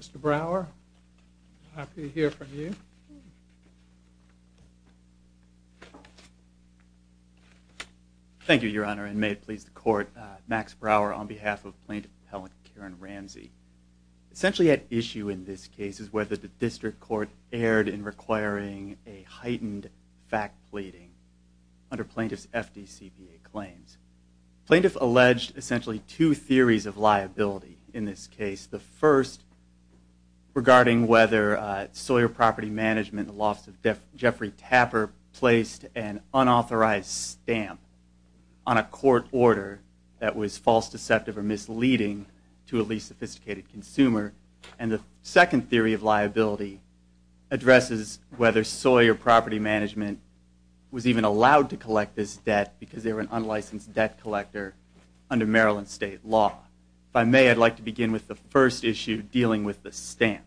Mr. Brower, happy to hear from you. Thank you, Your Honor, and may it please the court. Max Brower on behalf of plaintiff appellant Karen Ramsay. Essentially at issue in this case is whether the district court erred in requiring a heightened fact pleading under plaintiff's FDCPA claims. Plaintiff alleged two theories of liability in this case. The first regarding whether Sawyer Property Management, the loss of Jeffrey Tapper, placed an unauthorized stamp on a court order that was false, deceptive, or misleading to a least sophisticated consumer. And the second theory of liability addresses whether Sawyer Property Management was even allowed to collect this debt because they were an unlicensed debt collector under Maryland state law. If I may, I'd like to begin with the first issue dealing with the stamp.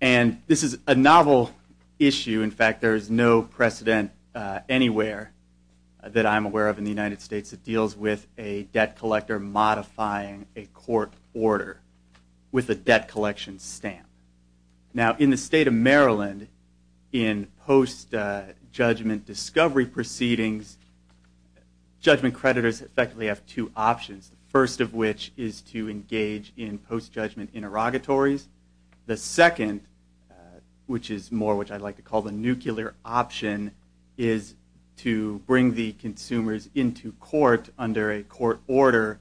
And this is a novel issue, in fact there is no precedent anywhere that I'm aware of in the United States that deals with a debt collector modifying a court order with a debt collection stamp. Now in the state of Maryland, in post judgment discovery proceedings, judgment creditors effectively have two options. The first of which is to engage in post judgment interrogatories. The second, which is more which I'd like to call the nuclear option, is to bring the consumers into court under a court order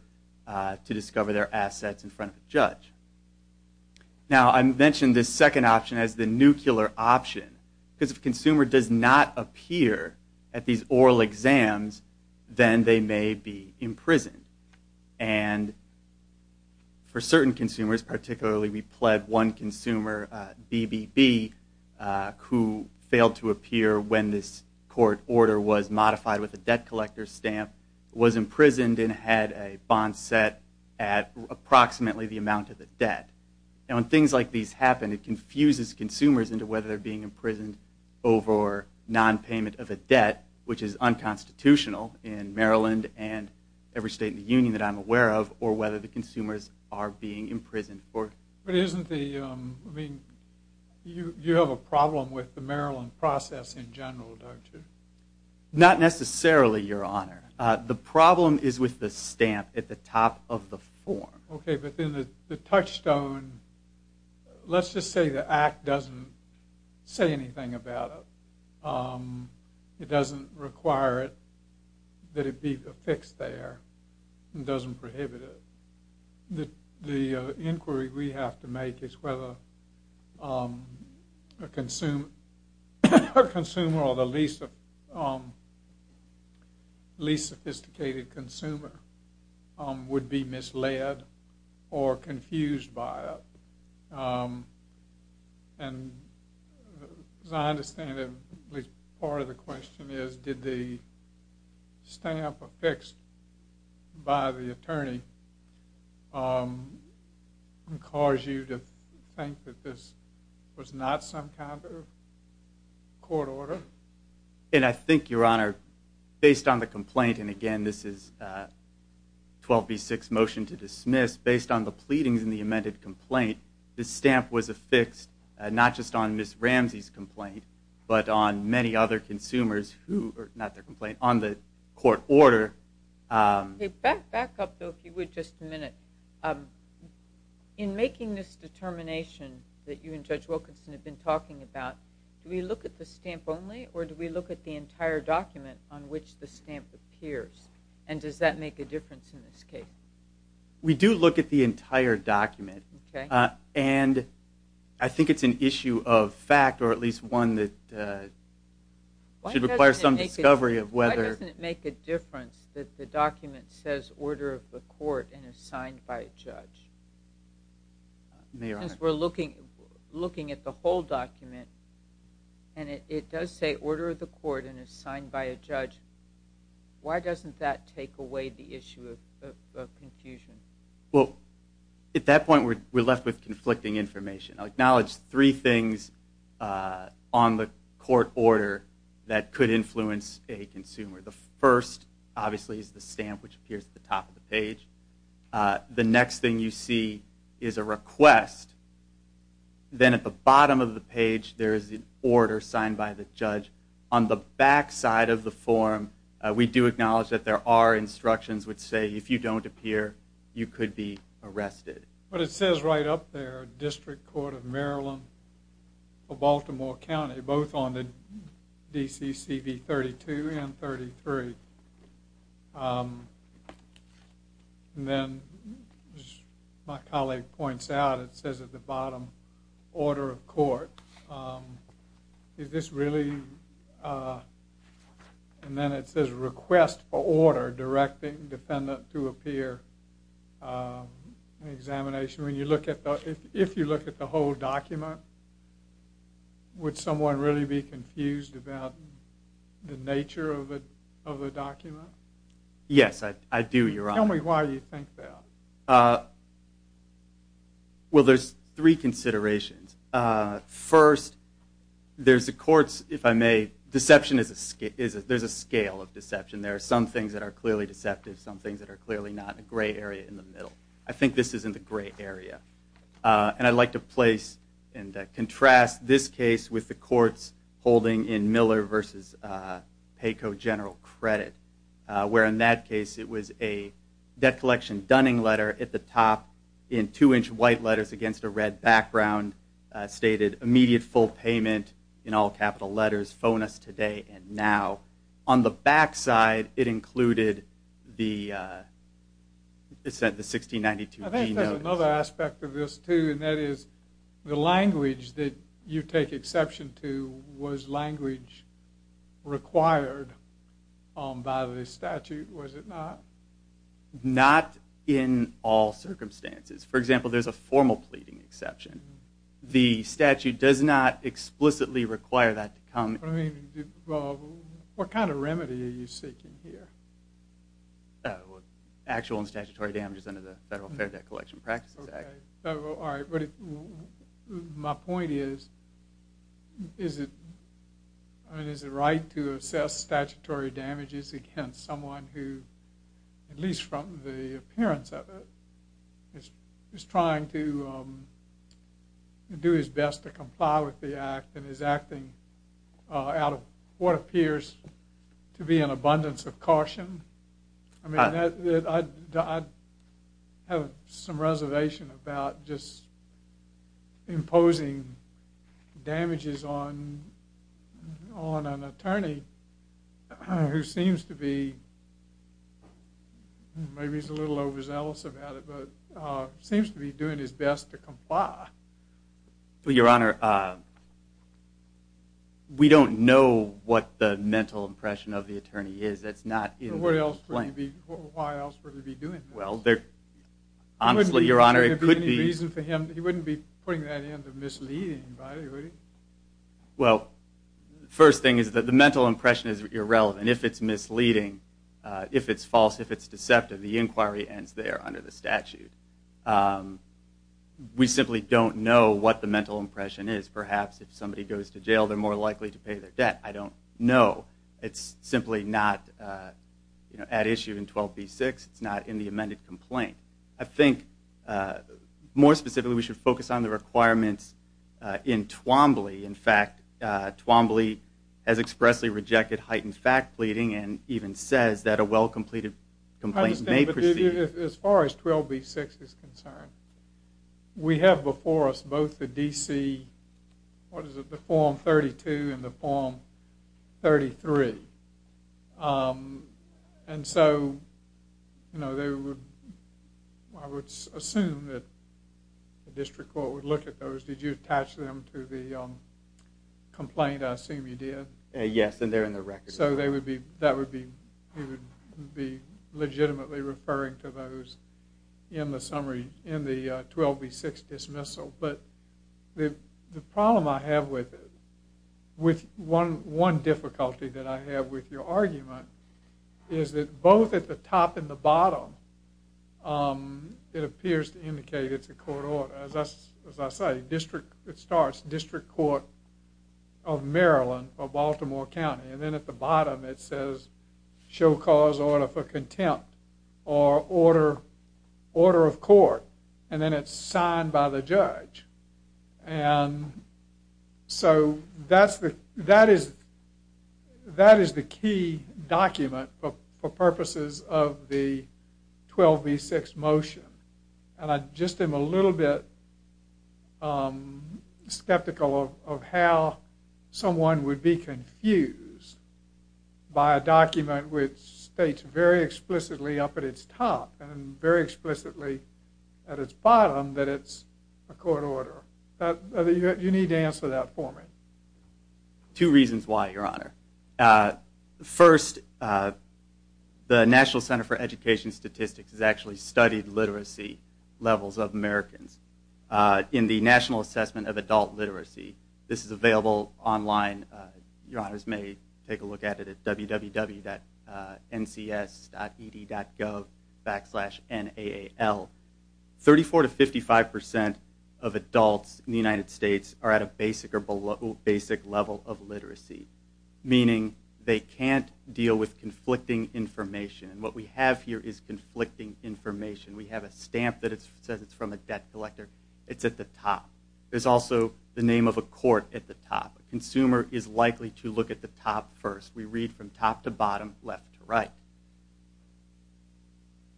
to discover their assets in front of a judge. Now I mentioned this second option as the nuclear option because if consumers fail to appear at these oral exams, then they may be imprisoned. And for certain consumers, particularly we pled one consumer, BBB, who failed to appear when this court order was modified with a debt collector stamp, was imprisoned and had a bond set at approximately the amount of the debt. And when things like these happen, it confuses consumers into whether they're being of a debt, which is unconstitutional in Maryland and every state in the Union that I'm aware of, or whether the consumers are being imprisoned. But isn't the, I mean, you have a problem with the Maryland process in general, don't you? Not necessarily, your honor. The problem is with the stamp at the top of the form. Okay, but then the touchstone, let's just say the Act doesn't say anything about it. It doesn't require it, that it be affixed there. It doesn't prohibit it. The inquiry we have to make is whether a consumer or the least sophisticated consumer would be misled or confused by it. And as I understand it, at least part of the question is, did the stamp affixed by the attorney cause you to think that this was not some kind of court order? And I think, your honor, based on the complaint, and again, this is 12b6 motion to dismiss, based on the pleadings in the amended complaint, the stamp was affixed, not just on Ms. Ramsey's complaint, but on many other consumers who, not their complaint, on the court order. Back up, though, if you would, just a minute. In making this determination that you and Judge Wilkinson have been talking about, do we look at the stamp only, or do we look at the entire document on which the stamp appears? And does that make a difference in this case? We do look at the entire document, and I think it's an issue of fact, or at least one that should require some discovery of whether… Since we're looking at the whole document, and it does say order of the court and is signed by a judge, why doesn't that take away the issue of confusion? Well, at that point, we're left with conflicting information. I'll acknowledge three things on the court order that could influence a consumer. The first, obviously, is the stamp, which appears at the top of the page. The next thing you see is a request. Then at the bottom of the page, there is an order signed by the judge. On the back side of the form, we do acknowledge that there are instructions which say, if you don't appear, you could be arrested. But it says right up there, District Court of Maryland of Baltimore County, both on the DCC v. 32 and 33. And then, as my colleague points out, it says at the bottom, order of court. Is this really… And then it says request for order directing defendant to appear in examination. If you look at the whole document, would someone really be confused about the nature of the document? Yes, I do, Your Honor. Tell me why you think that. Well, there's three considerations. First, there's the courts, if I may. Deception, there's a scale of deception. There are some things that are clearly deceptive, some things that are clearly not. I think this is in the gray area. And I'd like to place and contrast this case with the courts holding in Miller v. Paco General Credit, where in that case it was a debt collection Dunning letter at the top in two-inch white letters against a red background, stated immediate full payment in all capital letters, phone us today and now. On the back side, it included the 1692 D notice. I think there's another aspect of this, too, and that is the language that you take exception to was language required by the statute, was it not? Not in all circumstances. For example, there's a formal pleading exception. The statute does not explicitly require that to come. What kind of remedy are you seeking here? Actual and statutory damages under the Federal Fair Debt Collection Practices Act. My point is, is it right to assess statutory damages against someone who, at least from the appearance of it, is trying to do his best to comply with the act and is acting out of what appears to be an abundance of caution? I mean, I have some reservation about just imposing damages on an attorney who seems to be, maybe he's a little overzealous about it, but seems to be doing his best to comply. Your Honor, we don't know what the mental impression of the attorney is. Why else would he be doing that? Honestly, Your Honor, it could be... He wouldn't be putting that in to mislead anybody, would he? Well, first thing is that the mental impression is irrelevant. If it's misleading, if it's false, if it's deceptive, the inquiry ends there under the statute. We simply don't know what the mental impression is. Perhaps if somebody goes to jail, they're more likely to pay their debt. I don't know. It's simply not at issue in 12b-6. It's not in the amended complaint. I think, more specifically, we should focus on the requirements in Twombly. In fact, Twombly has expressly rejected heightened fact pleading and even says that a well-completed complaint may proceed... ...as far as 12b-6 is concerned. We have before us both the DC, what is it, the Form 32 and the Form 33. And so, you know, they would... I would assume that the district court would look at those. Did you attach them to the complaint? I assume you did. Yes, and they're in the record. So that would be legitimately referring to those in the summary, in the 12b-6 dismissal. But the problem I have with it, with one difficulty that I have with your argument... ...is that both at the top and the bottom, it appears to indicate it's a court order. As I say, it starts District Court of Maryland for Baltimore County. And then at the bottom it says, show cause order for contempt or order of court. And then it's signed by the judge. And so that is the key document for purposes of the 12b-6 motion. And I just am a little bit skeptical of how someone would be confused by a document... ...which states very explicitly up at its top and very explicitly at its bottom that it's a court order. You need to answer that for me. Two reasons why, Your Honor. First, the National Center for Education Statistics has actually studied literacy levels of Americans. In the National Assessment of Adult Literacy, this is available online. Your Honors may take a look at it at www.ncs.ed.gov. Thirty-four to fifty-five percent of adults in the United States are at a basic level of literacy... ...meaning they can't deal with conflicting information. And what we have here is conflicting information. We have a stamp that says it's from a debt collector. It's at the top. There's also the name of a court at the top. A consumer is likely to look at the top first. We read from top to bottom, left to right.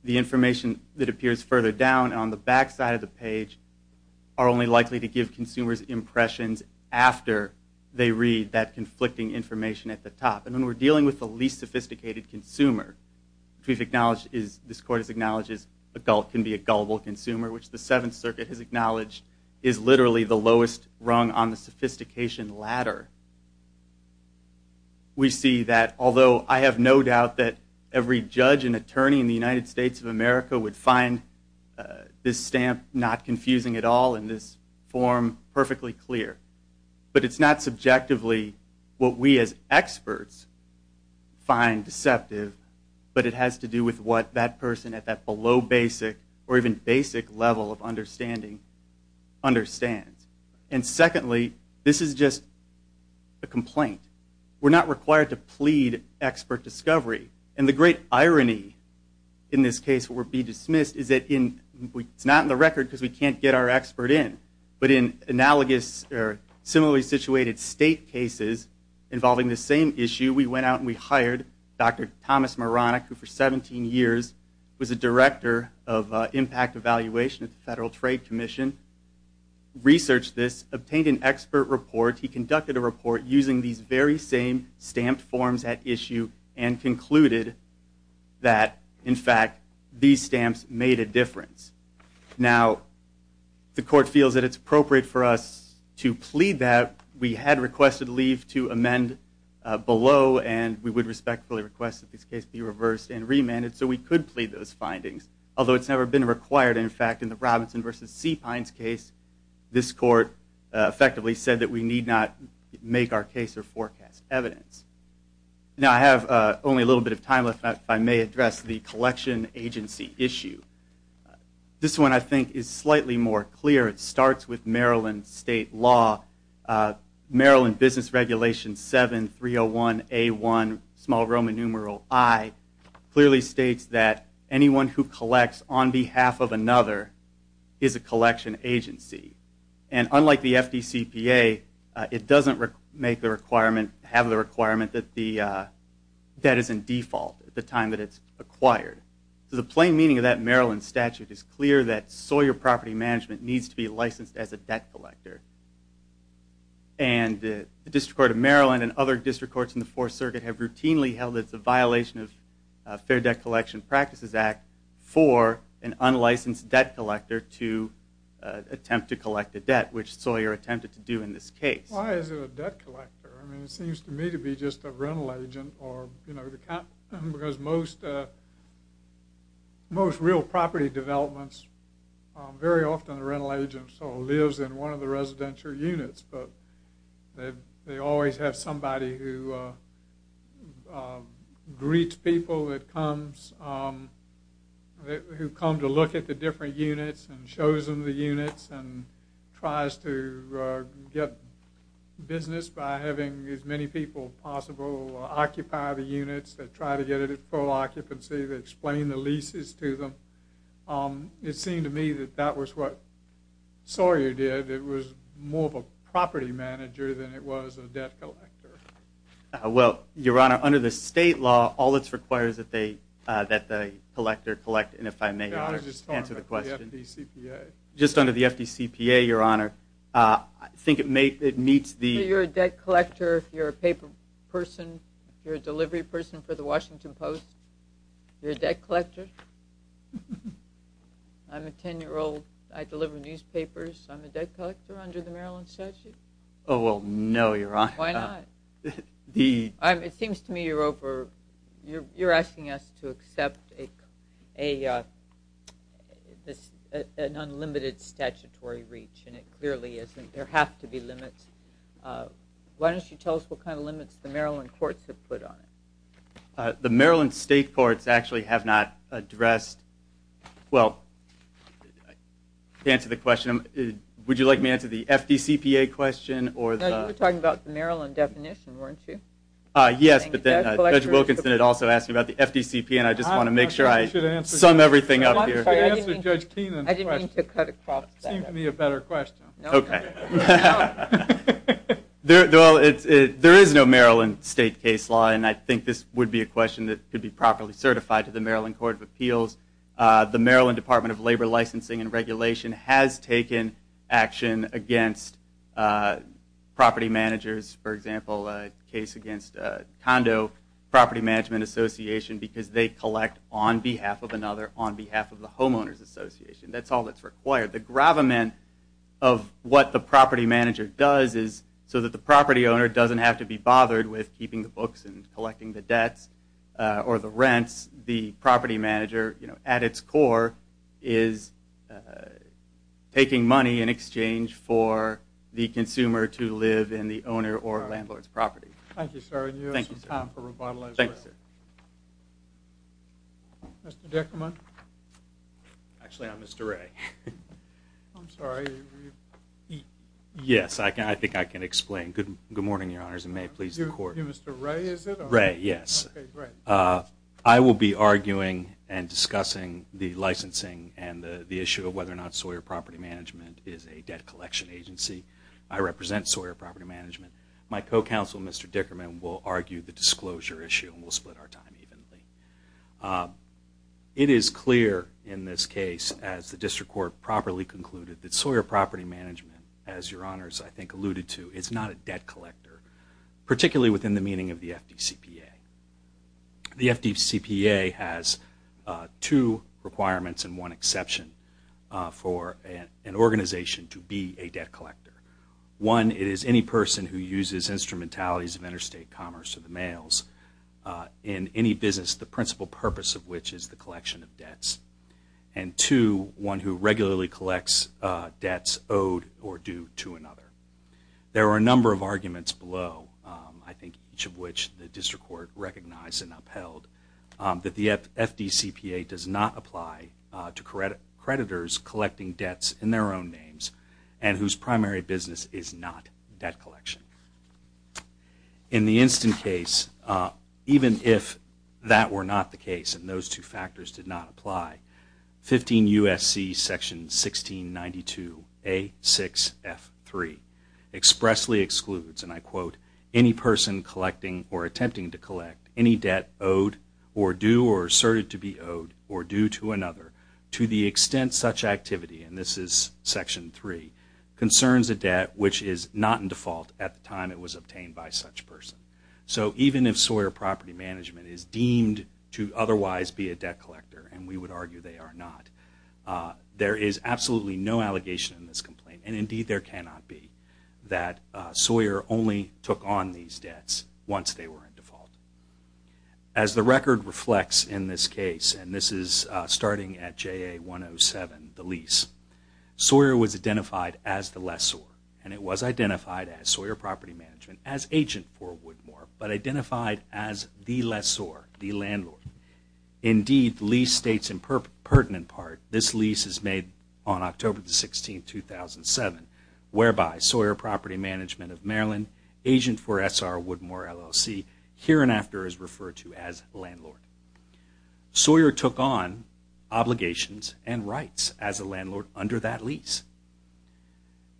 The information that appears further down on the back side of the page... ...are only likely to give consumers impressions after they read that conflicting information at the top. And when we're dealing with the least sophisticated consumer... ...which this Court has acknowledged can be a gullible consumer... ...which the Seventh Circuit has acknowledged is literally the lowest rung on the sophistication ladder... ...we see that, although I have no doubt that every judge and attorney in the United States of America... ...would find this stamp not confusing at all and this form perfectly clear... ...but it's not subjectively what we as experts find deceptive... ...but it has to do with what that person at that below basic or even basic level of understanding understands. And secondly, this is just a complaint. We're not required to plead expert discovery. And the great irony in this case would be dismissed... ...is that it's not in the record because we can't get our expert in... ...but in analogous or similarly situated state cases involving the same issue... ...we went out and we hired Dr. Thomas Moronic... ...who for 17 years was a director of impact evaluation at the Federal Trade Commission... ...researched this, obtained an expert report... ...he conducted a report using these very same stamped forms at issue... ...and concluded that, in fact, these stamps made a difference. Now, the court feels that it's appropriate for us to plead that. We had requested leave to amend below... ...and we would respectfully request that this case be reversed and remanded... ...so we could plead those findings... ...although it's never been required, in fact, in the Robinson v. C. Pines case... ...this court effectively said that we need not make our case or forecast evidence. Now, I have only a little bit of time left... ...if I may address the collection agency issue. This one, I think, is slightly more clear. It starts with Maryland state law. Maryland Business Regulation 7301A1, small Roman numeral I... ...clearly states that anyone who collects on behalf of another is a collection agency. And unlike the FDCPA, it doesn't have the requirement that the debt is in default... ...at the time that it's acquired. So the plain meaning of that Maryland statute is clear... ...that Sawyer Property Management needs to be licensed as a debt collector. And the District Court of Maryland and other district courts in the Fourth Circuit... ...Fair Debt Collection Practices Act... ...for an unlicensed debt collector to attempt to collect a debt... ...which Sawyer attempted to do in this case. Why is it a debt collector? I mean, it seems to me to be just a rental agent or, you know... ...because most real property developments... ...very often the rental agent sort of lives in one of the residential units... ...they always have somebody who greets people that comes... ...who come to look at the different units and shows them the units... ...and tries to get business by having as many people as possible... ...occupy the units, they try to get it at full occupancy... ...they explain the leases to them. It seemed to me that that was what Sawyer did. It was more of a property manager than it was a debt collector. Well, Your Honor, under the state law... ...all that's required is that the collector collect... ...and if I may answer the question... I was just talking about the FDCPA. Just under the FDCPA, Your Honor. I think it meets the... If you're a debt collector, if you're a paper person... ...if you're a delivery person for the Washington Post... ...you're a debt collector. I'm a 10-year-old. I deliver newspapers. I'm a debt collector under the Maryland statute. Oh, well, no, Your Honor. Why not? It seems to me you're asking us to accept an unlimited statutory reach... ...and it clearly isn't. There have to be limits. Why don't you tell us what kind of limits the Maryland courts have put on it? The Maryland state courts actually have not addressed... Well, to answer the question, would you like me to answer the FDCPA question? No, you were talking about the Maryland definition, weren't you? Yes, but then Judge Wilkinson had also asked me about the FDCPA... ...and I just want to make sure I sum everything up here. You should answer Judge Keenan's question. I didn't mean to cut across that. It seemed to me a better question. Okay. There is no Maryland state case law, and I think this would be a question that could be properly certified... ...to the Maryland Court of Appeals. The Maryland Department of Labor, Licensing, and Regulation... ...has taken action against property managers. For example, a case against Condo Property Management Association... ...because they collect on behalf of another on behalf of the Homeowners Association. That's all that's required. The gravamen of what the property manager does is... ...so that the property owner doesn't have to be bothered with keeping the books... ...and collecting the debts or the rents. The property manager, at its core, is taking money in exchange... ...for the consumer to live in the owner or landlord's property. Thank you, sir. And you have some time for rebuttal as well. Thank you, sir. Mr. Dickerman. Actually, I'm Mr. Ray. I'm sorry. Yes, I think I can explain. Good morning, Your Honors, and may it please the Court. You're Mr. Ray, is it? Ray, yes. Okay, great. I will be arguing and discussing the licensing and the issue... ...of whether or not Sawyer Property Management is a debt collection agency. I represent Sawyer Property Management. My co-counsel, Mr. Dickerman, will argue the disclosure issue... ...and we'll split our time evenly. It is clear in this case, as the District Court properly concluded... ...that Sawyer Property Management, as Your Honors, I think, alluded to... ...is not a debt collector, particularly within the meaning of the FDCPA. The FDCPA has two requirements and one exception for an organization... ...to be a debt collector. One, it is any person who uses instrumentalities of interstate commerce... ...in any business, the principal purpose of which is the collection of debts. And two, one who regularly collects debts owed or due to another. There are a number of arguments below, I think each of which the District Court... ...recognized and upheld, that the FDCPA does not apply to creditors... ...collecting debts in their own names and whose primary business... ...is not debt collection. In the instant case, even if that were not the case... ...and those two factors did not apply, 15 U.S.C. section 1692 A.6.F.3... ...expressly excludes, and I quote, any person collecting or attempting to collect... ...any debt owed or due or asserted to be owed or due to another... ...to the extent such activity, and this is section 3, concerns a debt... ...collector at the time it was obtained by such person. So even if Sawyer Property Management is deemed to otherwise be a debt collector... ...and we would argue they are not, there is absolutely no allegation in this... ...complaint, and indeed there cannot be, that Sawyer only took on these debts... ...once they were in default. As the record reflects in this case, and this is starting at JA 107, the lease... ...Sawyer was identified as the lessor, and it was identified as Sawyer Property Management... ...as agent for Woodmore, but identified as the lessor, the landlord. Indeed, the lease states in pertinent part, this lease is made on October 16, 2007... ...whereby Sawyer Property Management of Maryland, agent for SR Woodmore LLC... ...here and after is referred to as landlord. Sawyer took on obligations and rights as a landlord under that lease,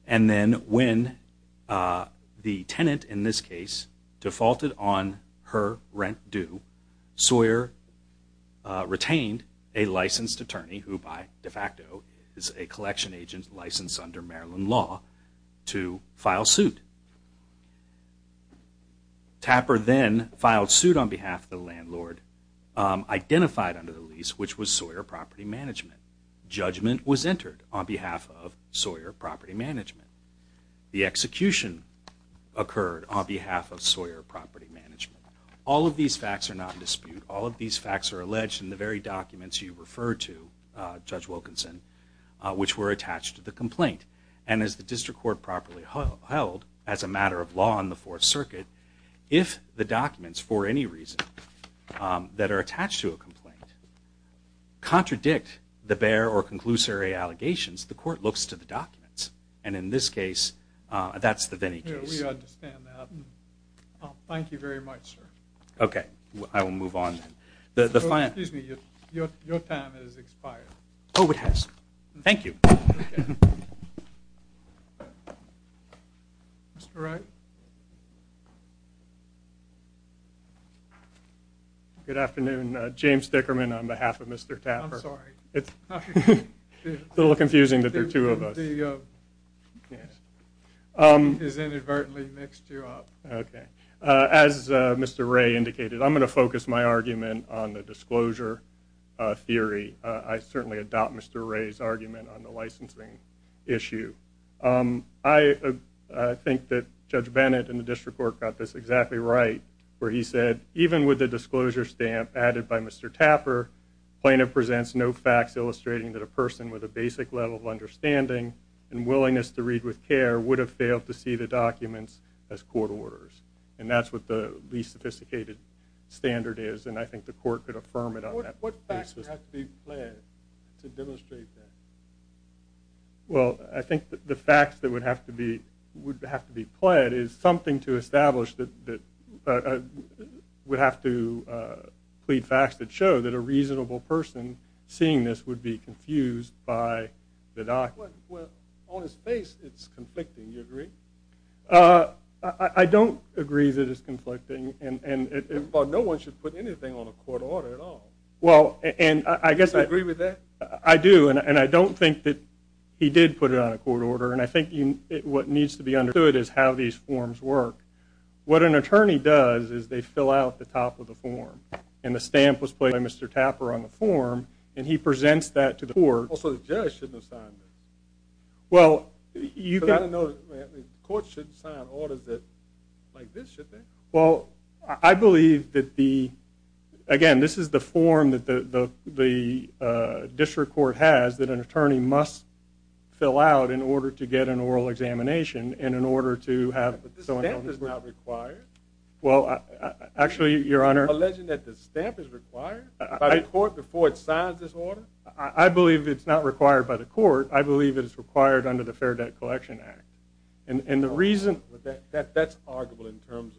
and then when... ...the tenant in this case defaulted on her rent due, Sawyer retained a licensed attorney... ...who by de facto is a collection agent licensed under Maryland law, to file suit. Tapper then filed suit on behalf of the landlord, identified under the lease which was... ...Sawyer Property Management. Judgment was entered on behalf of Sawyer Property Management. The execution occurred on behalf of Sawyer Property Management. All of these facts are not in dispute, all of these facts are alleged in the very documents... ...you referred to, Judge Wilkinson, which were attached to the complaint. And as the District Court properly held, as a matter of law in the Fourth Circuit, if the documents... ...for any reason that are attached to a complaint contradict the bare or conclusory allegations... ...the court looks to the documents. And in this case, that's the Vinnie case. We understand that. Thank you very much, sir. Okay, I will move on then. Excuse me, your time has expired. Oh, it has. Thank you. Okay. Mr. Ray? Good afternoon. James Dickerman on behalf of Mr. Tapper. I'm sorry. It's a little confusing that there are two of us. The... Yes. ...is inadvertently mixed you up. Okay. As Mr. Ray indicated, I'm going to focus my argument on the disclosure theory. I certainly adopt Mr. Ray's argument on the licensing issue. I think that Judge Bennett and the District Court got this exactly right... ...where he said, even with the disclosure stamp added by Mr. Tapper, plaintiff presents no facts... ...illustrating that a person with a basic level of understanding and willingness to read with care... ...would have failed to see the documents as court orders. And that's what the least sophisticated standard is, and I think the court could affirm it on that basis. What would have to be pled to demonstrate that? Well, I think the facts that would have to be pled is something to establish that... ...would have to plead facts that show that a reasonable person seeing this would be confused by the document. Well, on its face, it's conflicting. Do you agree? I don't agree that it's conflicting. Well, no one should put anything on a court order at all. Well, and I guess... Do you agree with that? I do, and I don't think that he did put it on a court order. And I think what needs to be understood is how these forms work. What an attorney does is they fill out the top of the form, and the stamp was pled by Mr. Tapper on the form... ...and he presents that to the court. Also, the judge shouldn't have signed it. Well, you can... Well, I believe that the... Again, this is the form that the district court has that an attorney must fill out in order to get an oral examination... ...and in order to have... But the stamp is not required. Well, actually, Your Honor... Alleging that the stamp is required by the court before it signs this order? I believe it's not required by the court. I believe it is required under the Fair Debt Collection Act. And the reason... That's arguable in terms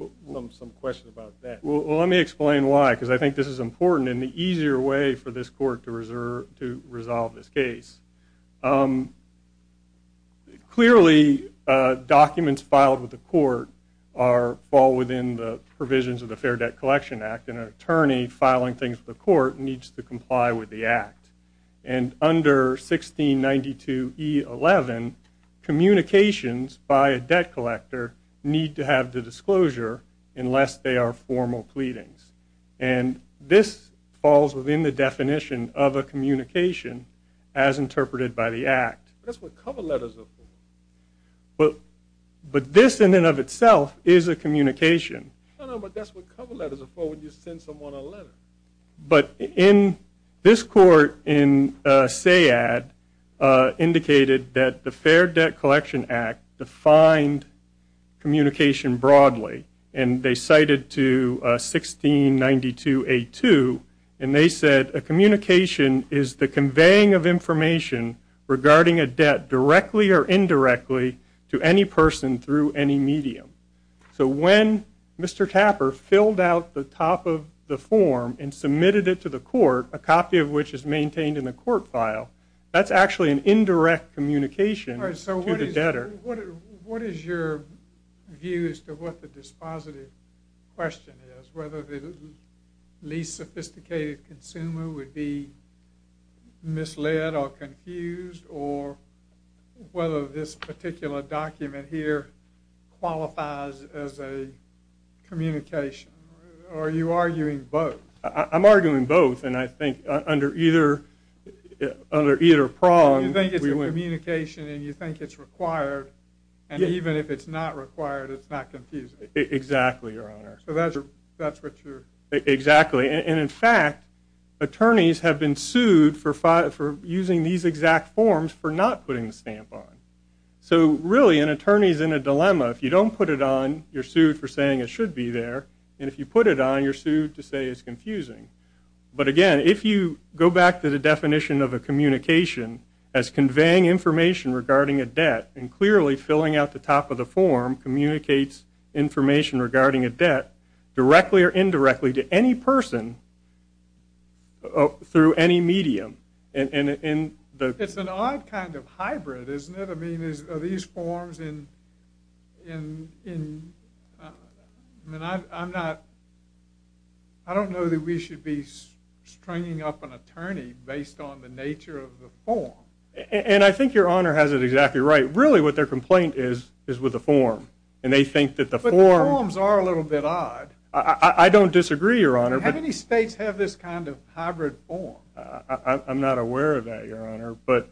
of some question about that. Well, let me explain why, because I think this is important and the easier way for this court to resolve this case. Clearly, documents filed with the court fall within the provisions of the Fair Debt Collection Act... ...and an attorney filing things with the court needs to comply with the Act. And under 1692E11, communications by a debt collector need to have the disclosure unless they are formal pleadings. And this falls within the definition of a communication as interpreted by the Act. That's what cover letters are for. But this, in and of itself, is a communication. No, no, but that's what cover letters are for when you send someone a letter. But in... This court in Sayad indicated that the Fair Debt Collection Act defined communication broadly. And they cited to 1692A2, and they said, A communication is the conveying of information regarding a debt directly or indirectly to any person through any medium. So when Mr. Tapper filled out the top of the form and submitted it to the court, a copy of which is maintained in the court file, that's actually an indirect communication to the debtor. All right, so what is your view as to what the dispositive question is? Whether the least sophisticated consumer would be misled or confused, or whether this particular document here qualifies as a communication? Or are you arguing both? I'm arguing both, and I think under either prong... So you think it's a communication, and you think it's required. And even if it's not required, it's not confusing. Exactly, Your Honor. So that's what you're... Exactly, and in fact, attorneys have been sued for using these exact forms for not putting the stamp on. So really, an attorney's in a dilemma. If you don't put it on, you're sued for saying it should be there. And if you put it on, you're sued to say it's confusing. But again, if you go back to the definition of a communication as conveying information regarding a debt, and clearly filling out the top of the form communicates information regarding a debt directly or indirectly to any person through any medium. It's an odd kind of hybrid, isn't it? I mean, are these forms in... I mean, I'm not... I don't know that we should be stringing up an attorney based on the nature of the form. And I think Your Honor has it exactly right. Really, what their complaint is is with the form, and they think that the form... I don't disagree, Your Honor. How many states have this kind of hybrid form? I'm not aware of that, Your Honor. But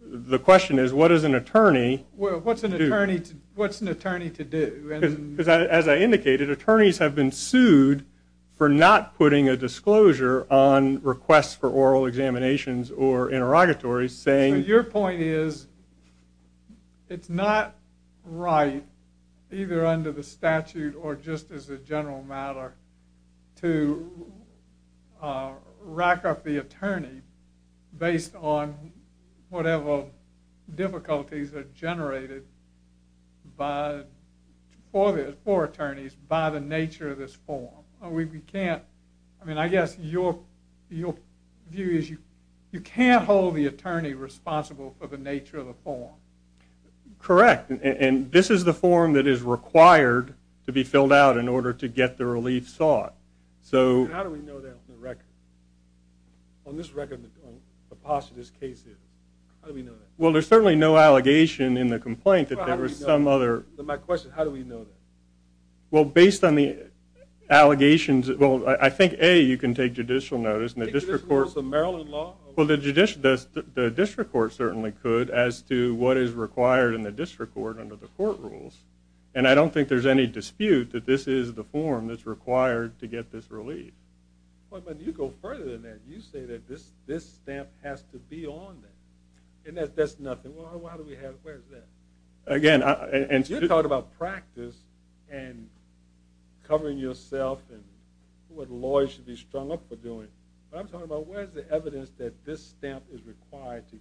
the question is, what is an attorney... What's an attorney to do? As I indicated, attorneys have been sued for not putting a disclosure on requests for oral examinations or interrogatories saying... Your point is it's not right, either under the statute or just as a general matter, to rack up the attorney based on whatever difficulties are generated for attorneys by the nature of this form. We can't... I mean, I guess your view is you can't hold the attorney responsible for the nature of the form. Correct. And this is the form that is required to be filled out in order to get the relief sought. So... How do we know that from the record? On this record, the posture of this case is... How do we know that? Well, there's certainly no allegation in the complaint that there was some other... My question is, how do we know that? Well, based on the allegations... Well, I think, A, you can take judicial notice and the district court... Take judicial notice of Maryland law? Well, the district court certainly could as to what is required in the district court under the court rules. And I don't think there's any dispute that this is the form that's required to get this relief. But you go further than that. You say that this stamp has to be on there. And that's nothing. Well, how do we have... Where is that? Again... You're talking about practice and covering yourself and what lawyers should be strung up for doing. But I'm talking about where is the evidence that this stamp is required to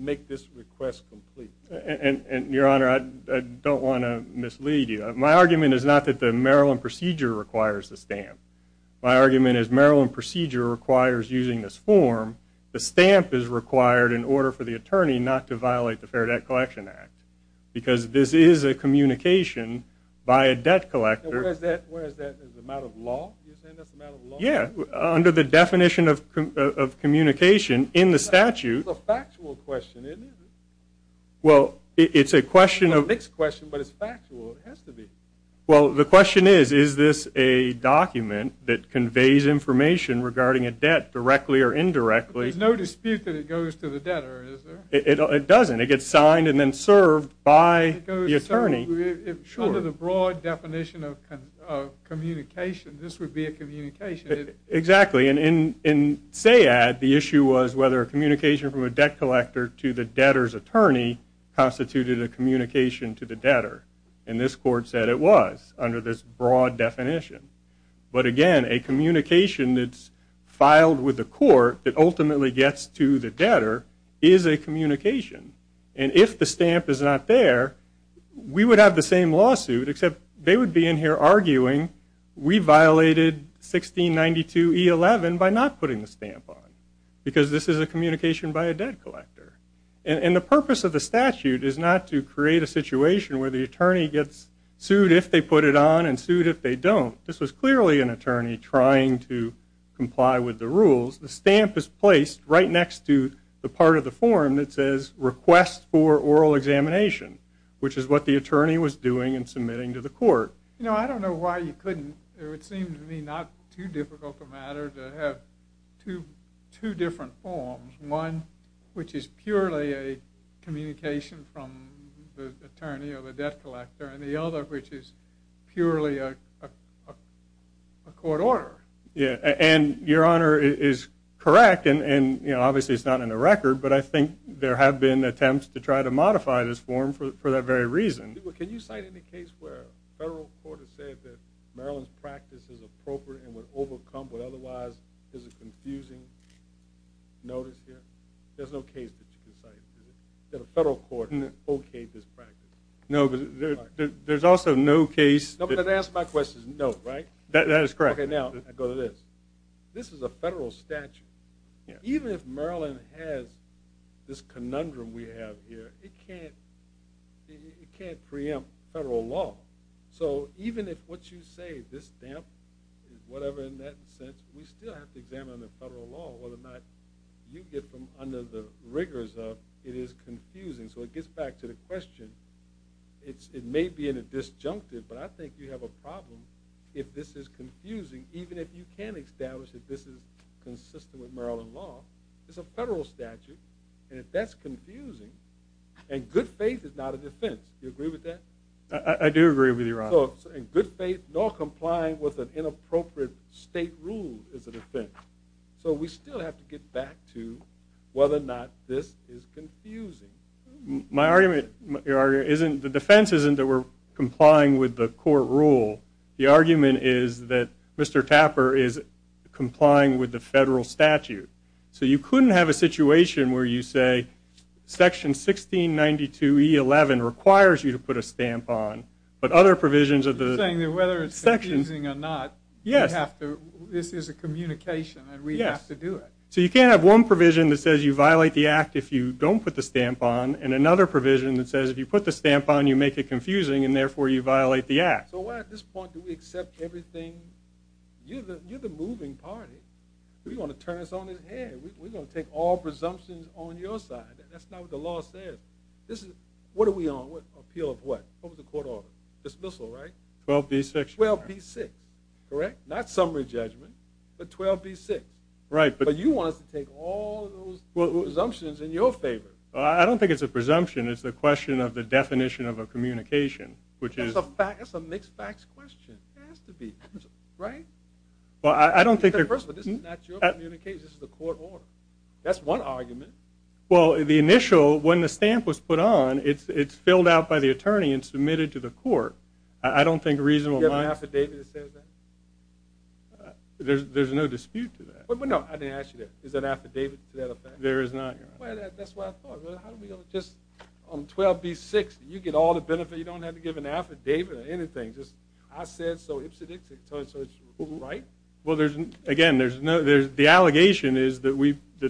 make this request complete. And, Your Honor, I don't want to mislead you. My argument is not that the Maryland procedure requires the stamp. My argument is Maryland procedure requires using this form. The stamp is required in order for the attorney not to violate the Fair Debt Collection Act because this is a communication by a debt collector. Where is that? Is it a matter of law? You're saying that's a matter of law? Yeah. Under the definition of communication in the statute... It's a factual question, isn't it? Well, it's a question of... It's a mixed question, but it's factual. It has to be. Well, the question is, is this a document that conveys information regarding a debt directly or indirectly? There's no dispute that it goes to the debtor, is there? It doesn't. It gets signed and then served by the attorney. Under the broad definition of communication, this would be a communication. Exactly. In SAAD, the issue was whether a communication from a debt collector to the debtor's attorney constituted a communication to the debtor. And this Court said it was under this broad definition. But again, a communication that's filed with the court that ultimately gets to the debtor is a communication. And if the stamp is not there, we would have the same lawsuit, except they would be in here arguing we violated 1692E11 by not putting the stamp on because this is a communication by a debt collector. And the purpose of the statute is not to create a situation where the attorney gets sued if they put it on and sued if they don't. This was clearly an attorney trying to comply with the rules. The stamp is placed right next to the part of the form that says request for oral examination, which is what the attorney was doing in submitting to the court. You know, I don't know why you couldn't. It would seem to me not too difficult a matter to have two different forms, one which is purely a communication from the attorney or the debt collector and the other which is purely a court order. Yeah, and Your Honor is correct, and obviously it's not in the record, but I think there have been attempts to try to modify this form for that very reason. Can you cite any case where a federal court has said that Maryland's practice is appropriate and would overcome what otherwise is a confusing notice here? There's no case that you can cite that a federal court okayed this practice. No, but there's also no case. The answer to my question is no, right? That is correct. Okay, now I go to this. This is a federal statute. Even if Maryland has this conundrum we have here, it can't preempt federal law. So even if what you say, this stamp, whatever in that sense, we still have to examine under federal law whether or not you get from under the rigors of it is confusing. So it gets back to the question. It may be in a disjunctive, but I think you have a problem if this is confusing, even if you can establish that this is consistent with Maryland law. It's a federal statute, and if that's confusing, and good faith is not a defense. Do you agree with that? I do agree with you, Your Honor. So good faith nor complying with an inappropriate state rule is a defense. So we still have to get back to whether or not this is confusing. My argument, Your Honor, the defense isn't that we're complying with the court rule. The argument is that Mr. Tapper is complying with the federal statute. So you couldn't have a situation where you say section 1692E11 requires you to put a stamp on, but other provisions of the section. Whether it's confusing or not, this is a communication, and we have to do it. So you can't have one provision that says you violate the act if you don't put the stamp on and another provision that says if you put the stamp on, you make it confusing, and therefore you violate the act. So why at this point do we accept everything? You're the moving party. We want to turn this on its head. We're going to take all presumptions on your side. That's not what the law says. What are we on? Appeal of what? What was the court order? Dismissal, right? 12B6. 12B6. Correct? Not summary judgment, but 12B6. Right. But you want us to take all those presumptions in your favor. I don't think it's a presumption. It's a question of the definition of a communication, which is... That's a mixed-facts question. It has to be. Right? Well, I don't think... First of all, this is not your communication. This is the court order. Well, the initial, when the stamp was put on, it's filled out by the attorney and submitted to the court. I don't think reasonable... Do you have an affidavit that says that? There's no dispute to that. No, I didn't ask you that. Is there an affidavit to that effect? There is not, Your Honor. Well, that's what I thought. How are we going to just... On 12B6, you get all the benefits. You don't have to give an affidavit or anything. Just, I said so. So it's right? Well, there's... Again, there's no... The allegation is that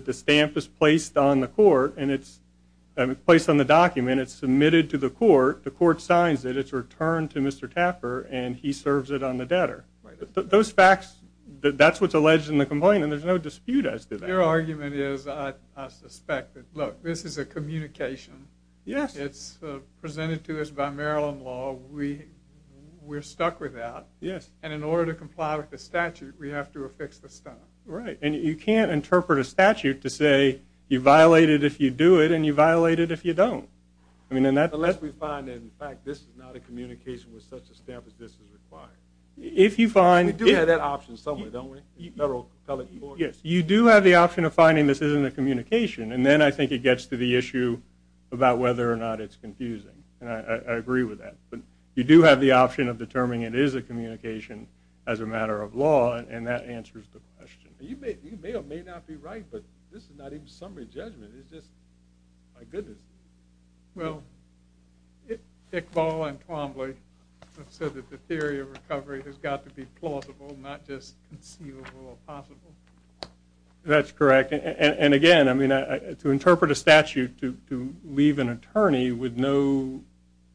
the stamp is placed on the court, and it's placed on the document. It's submitted to the court. The court signs it. It's returned to Mr. Tapper, and he serves it on the debtor. Right. Those facts, that's what's alleged in the complaint, and there's no dispute as to that. Your argument is, I suspect, that, look, this is a communication. Yes. It's presented to us by Maryland law. We're stuck with that. Yes. And in order to comply with the statute, we have to affix the stamp. Right. And you can't interpret a statute to say you violate it if you do it, and you violate it if you don't. Unless we find that, in fact, this is not a communication with such a stamp as this is required. If you find... We do have that option somewhere, don't we, in federal public court? Yes. You do have the option of finding this isn't a communication, and then I think it gets to the issue about whether or not it's confusing, and I agree with that. But you do have the option of determining it is a communication as a matter of law, and that answers the question. You may or may not be right, but this is not even summary judgment. It's just, my goodness. Well, Iqbal and Twombly have said that the theory of recovery has got to be plausible, not just conceivable or possible. That's correct. And again, I mean, to interpret a statute to leave an attorney with no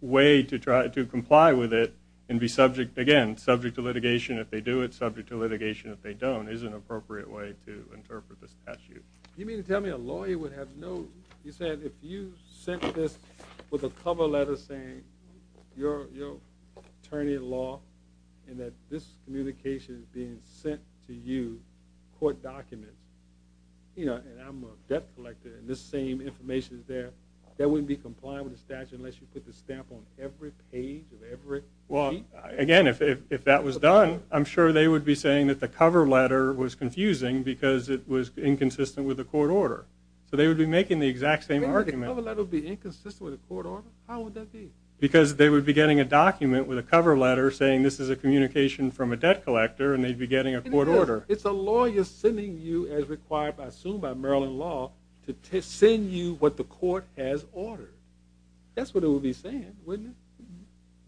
way to comply with it and be subject, again, subject to litigation if they do it, subject to litigation if they don't, is an appropriate way to interpret the statute. You mean to tell me a lawyer would have no... You said if you sent this with a cover letter saying you're an attorney of the law and that this communication is being sent to you, court documents, and I'm a debt collector and this same information is there, that wouldn't be compliant with the statute unless you put the stamp on every page of every sheet? Well, again, if that was done, I'm sure they would be saying that the cover letter was confusing because it was inconsistent with the court order. So they would be making the exact same argument. You mean the cover letter would be inconsistent with the court order? How would that be? Because they would be getting a document with a cover letter saying this is a communication from a debt collector and they'd be getting a court order. It's a lawyer sending you, as required, I assume, by Maryland law, to send you what the court has ordered. That's what it would be saying, wouldn't it?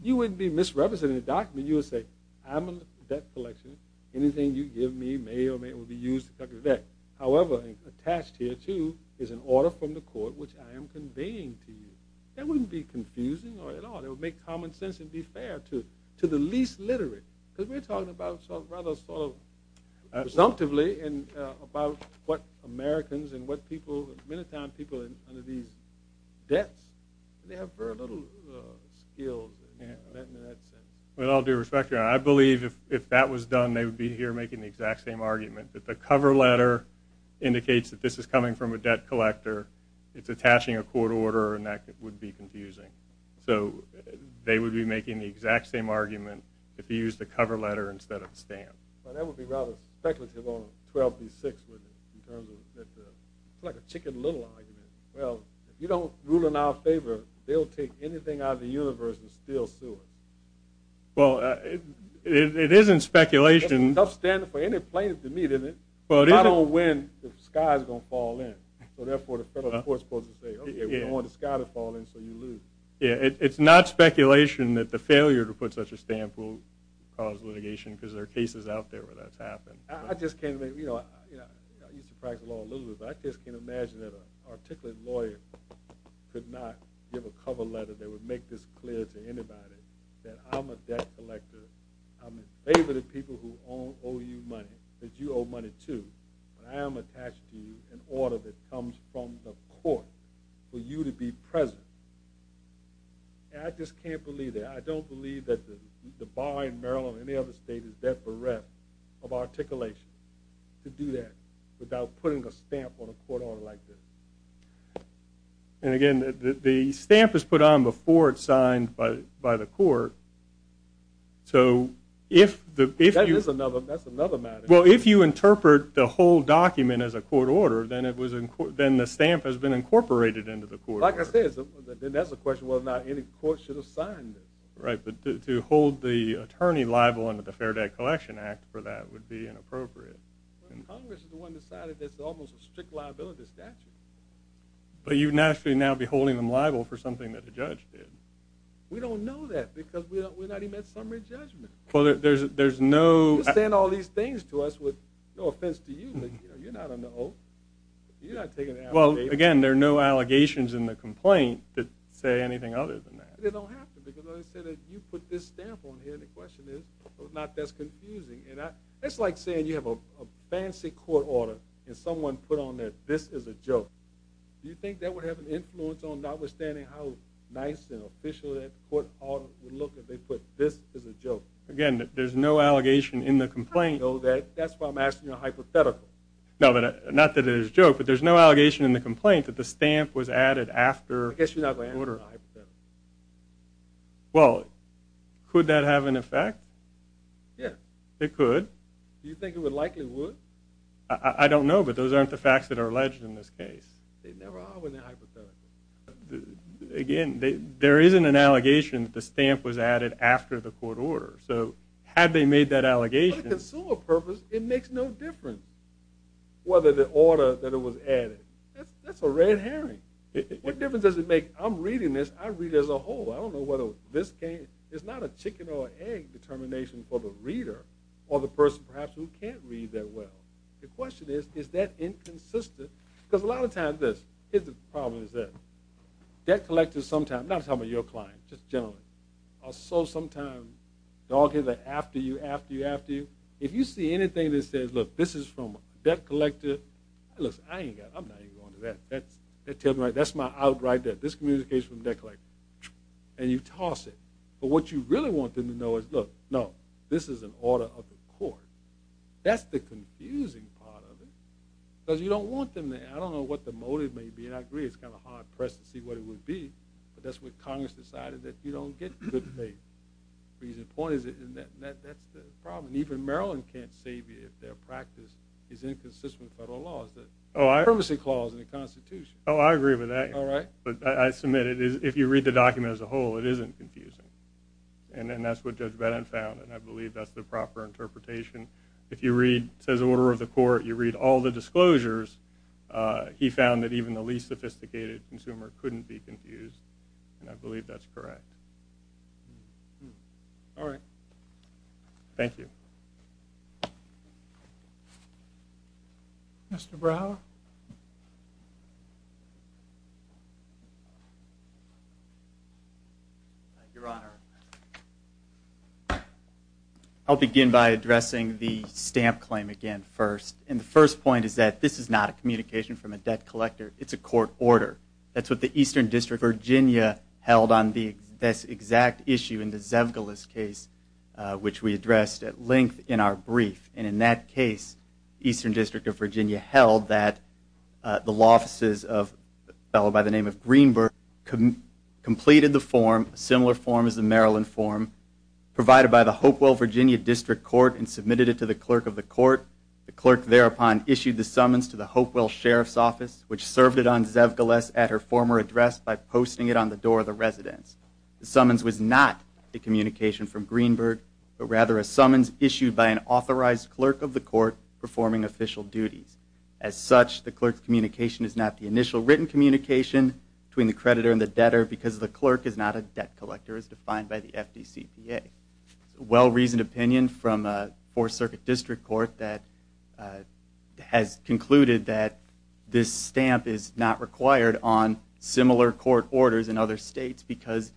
You wouldn't be misrepresenting the document. You would say, I'm a debt collector. Anything you give me may or may not be used to cover the debt. However, attached here, too, is an order from the court which I am conveying to you. That wouldn't be confusing at all. It would make common sense and be fair to the least literate. Because we're talking about sort of rather sort of presumptively about what Americans and what people, many times people under these debts, they have very little skills in that sense. With all due respect, I believe if that was done they would be here making the exact same argument, that the cover letter indicates that this is coming from a debt collector, it's attaching a court order, and that would be confusing. So they would be making the exact same argument if you used a cover letter instead of a stamp. That would be rather speculative on 12B6, wouldn't it, in terms of it's like a chicken little argument. Well, if you don't rule in our favor, they'll take anything out of the universe and still sue us. Well, it is in speculation. It's tough standing for any plaintiff to meet, isn't it? If I don't win, the sky is going to fall in. So therefore the federal court is supposed to say, okay, we don't want the sky to fall in so you lose. Yeah, it's not speculation that the failure to put such a stamp will cause litigation because there are cases out there where that's happened. I just can't imagine, you know, I used to practice law a little bit, but I just can't imagine that an articulate lawyer could not give a cover letter that would make this clear to anybody that I'm a debt collector, I'm in favor of the people who owe you money, that you owe money to, but I am attached to an order that comes from the court for you to be present. I just can't believe that. I don't believe that the bar in Maryland or any other state is that bereft of articulation to do that without putting a stamp on a court order like this. And again, the stamp is put on before it's signed by the court. That's another matter. Well, if you interpret the whole document as a court order, then the stamp has been incorporated into the court order. Like I said, then that's a question whether or not any court should have signed it. Right, but to hold the attorney liable under the Fair Debt Collection Act for that would be inappropriate. Congress is the one that decided it's almost a strict liability statute. But you'd naturally now be holding them liable for something that a judge did. We don't know that because we're not even at summary judgment. You're saying all these things to us with no offense to you, but you're not on the oath. You're not taking the allegations. Well, again, there are no allegations in the complaint that say anything other than that. It don't have to because, like I said, you put this stamp on here, and the question is, if not, that's confusing. It's like saying you have a fancy court order and someone put on there, this is a joke. Do you think that would have an influence on notwithstanding how nice and official that court order would look if they put this as a joke? Again, there's no allegation in the complaint. I know that. That's why I'm asking you a hypothetical. Not that it is a joke, but there's no allegation in the complaint that the stamp was added after the order. I guess you're not going to answer my hypothetical. Well, could that have an effect? Yes. It could. Do you think it likely would? I don't know, but those aren't the facts that are alleged in this case. They never are when they're hypothetical. Again, there isn't an allegation that the stamp was added after the court order. So had they made that allegation... For the consumer purpose, it makes no difference whether the order that it was added. That's a red herring. What difference does it make? I'm reading this. I read it as a whole. I don't know whether this case is not a chicken or an egg determination for the reader or the person, perhaps, who can't read that well. The question is, is that inconsistent? Because a lot of times, this is the problem. Debt collectors sometimes, I'm not talking about your client, just generally, are so sometimes, they're all after you, after you, after you. If you see anything that says, look, this is from a debt collector, I'm not even going to that. That's my outright debt. This communication is from a debt collector. And you toss it. But what you really want them to know is, look, no, this is an order of the court. That's the confusing part of it. Because you don't want them to, I don't know what the motive may be, and I agree it's kind of hard press to see what it would be, but that's what Congress decided that you don't get good pay. The point is, that's the problem. Even Maryland can't save you if their practice is inconsistent with federal laws, the privacy clause in the Constitution. Oh, I agree with that. All right. But I submit it is, if you read the document as a whole, it isn't confusing. And then that's what Judge Bennett found, and I believe that's the proper interpretation. If you read, it says order of the court, you read all the disclosures, he found that even the least sophisticated consumer couldn't be confused, and I believe that's correct. All right. Thank you. Mr. Brower? Your Honor, I'll begin by addressing the stamp claim again first. And the first point is that this is not a communication from a debt collector. It's a court order. That's what the Eastern District of Virginia held on this exact issue in the Zevgeles case, which we addressed at length in our brief. And in that case, the Eastern District of Virginia held that the law offices of a fellow by the name of Greenberg completed the form, a similar form as the Maryland form, provided by the Hopewell Virginia District Court and submitted it to the clerk of the court. The clerk thereupon issued the summons to the Hopewell Sheriff's Office, which served it on Zevgeles at her former address by posting it on the door of the residence. The summons was not a communication from Greenberg, but rather a summons issued by an authorized clerk of the court performing official duties. As such, the clerk's communication is not the initial written communication between the creditor and the debtor because the clerk is not a debt collector as defined by the FDCPA. It's a well-reasoned opinion from a Fourth Circuit District Court that has concluded that this stamp is not required on similar court orders in other states because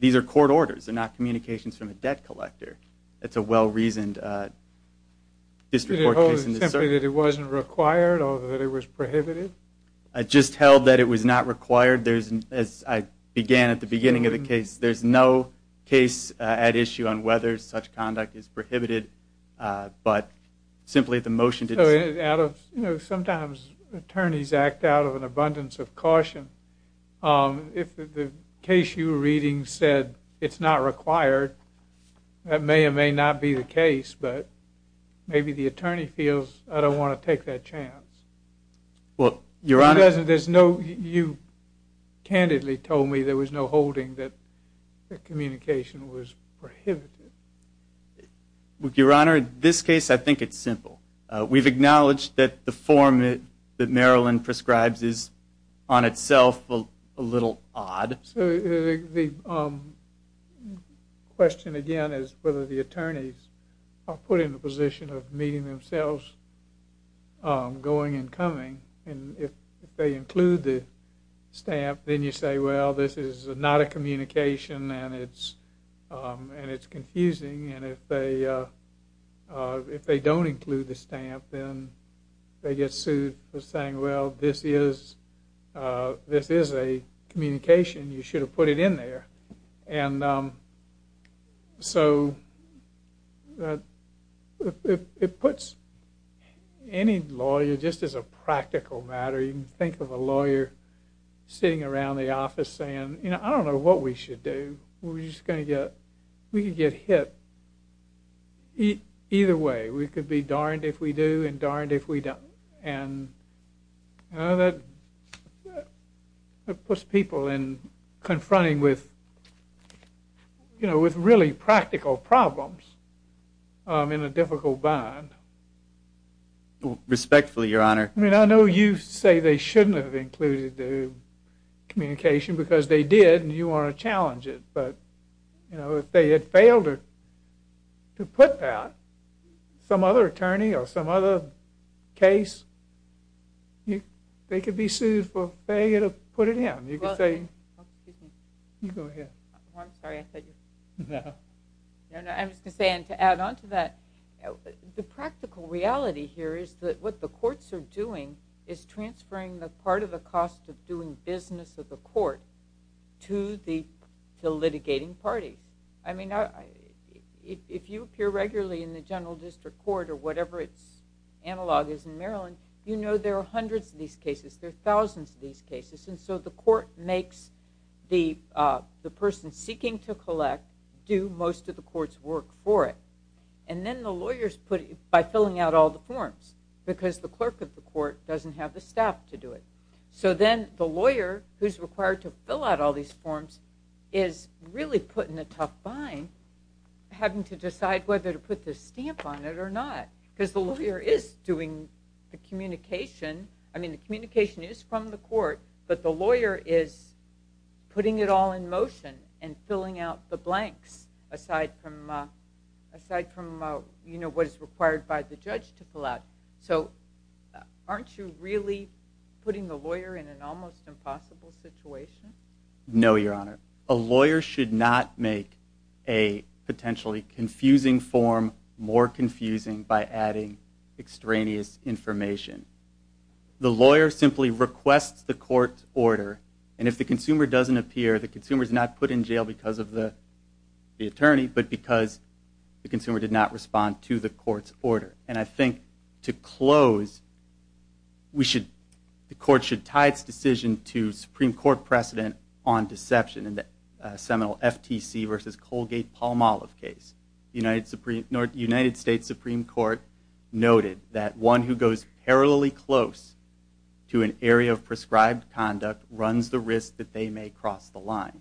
these are court orders, they're not communications from a debt collector. It's a well-reasoned district court case. Did it hold simply that it wasn't required or that it was prohibited? It just held that it was not required. As I began at the beginning of the case, there's no case at issue on whether such conduct is prohibited, but simply the motion to decide. Sometimes attorneys act out of an abundance of caution. If the case you were reading said it's not required, that may or may not be the case, but maybe the attorney feels I don't want to take that chance. Your Honor, you candidly told me there was no holding that the communication was prohibited. Your Honor, in this case I think it's simple. We've acknowledged that the form that Marilyn prescribes is on itself a little odd. So the question again is whether the attorneys are put in the position of meeting themselves going and coming, and if they include the stamp then you say, well, this is not a communication and it's confusing, and if they don't include the stamp then they get sued for saying, well, this is a communication. You should have put it in there. And so it puts any lawyer, just as a practical matter, you can think of a lawyer sitting around the office saying, you know, I don't know what we should do. We're just going to get hit either way. We could be darned if we do and darned if we don't. And that puts people in confronting with really practical problems in a difficult bind. Respectfully, Your Honor. I mean, I know you say they shouldn't have included the communication because they did and you want to challenge it. But, you know, if they had failed to put that, some other attorney or some other case, they could be sued for failing to put it in. You could say, you go ahead. I'm sorry, I said you. No. No, no. I was going to say, and to add on to that, the practical reality here is that what the courts are doing is transferring the part of the cost of doing business of the court to the litigating parties. I mean, if you appear regularly in the general district court or whatever its analog is in Maryland, you know there are hundreds of these cases. There are thousands of these cases. And so the court makes the person seeking to collect do most of the court's work for it. And then the lawyers, by filling out all the forms, because the clerk of the court doesn't have the staff to do it. So then the lawyer who's required to fill out all these forms is really put in a tough bind having to decide whether to put the stamp on it or not because the lawyer is doing the communication. I mean, the communication is from the court, but the lawyer is putting it all in motion and filling out the blanks aside from what is required by the judge to fill out. So aren't you really putting the lawyer in an almost impossible situation? No, Your Honor. A lawyer should not make a potentially confusing form more confusing by adding extraneous information. The lawyer simply requests the court order, and if the consumer doesn't appear, the consumer is not put in jail because of the attorney but because the consumer did not respond to the court's order. And I think to close, the court should tie its decision to Supreme Court precedent on deception in the seminal FTC versus Colgate-Palmolive case. The United States Supreme Court noted that one who goes parallelly close to an area of prescribed conduct runs the risk that they may cross the line.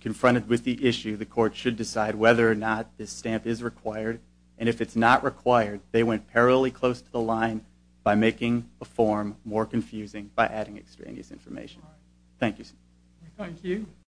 Confronted with the issue, the court should decide whether or not this stamp is required, and if it's not required, they went parallelly close to the line by making the form more confusing by adding extraneous information. Thank you, sir. Thank you.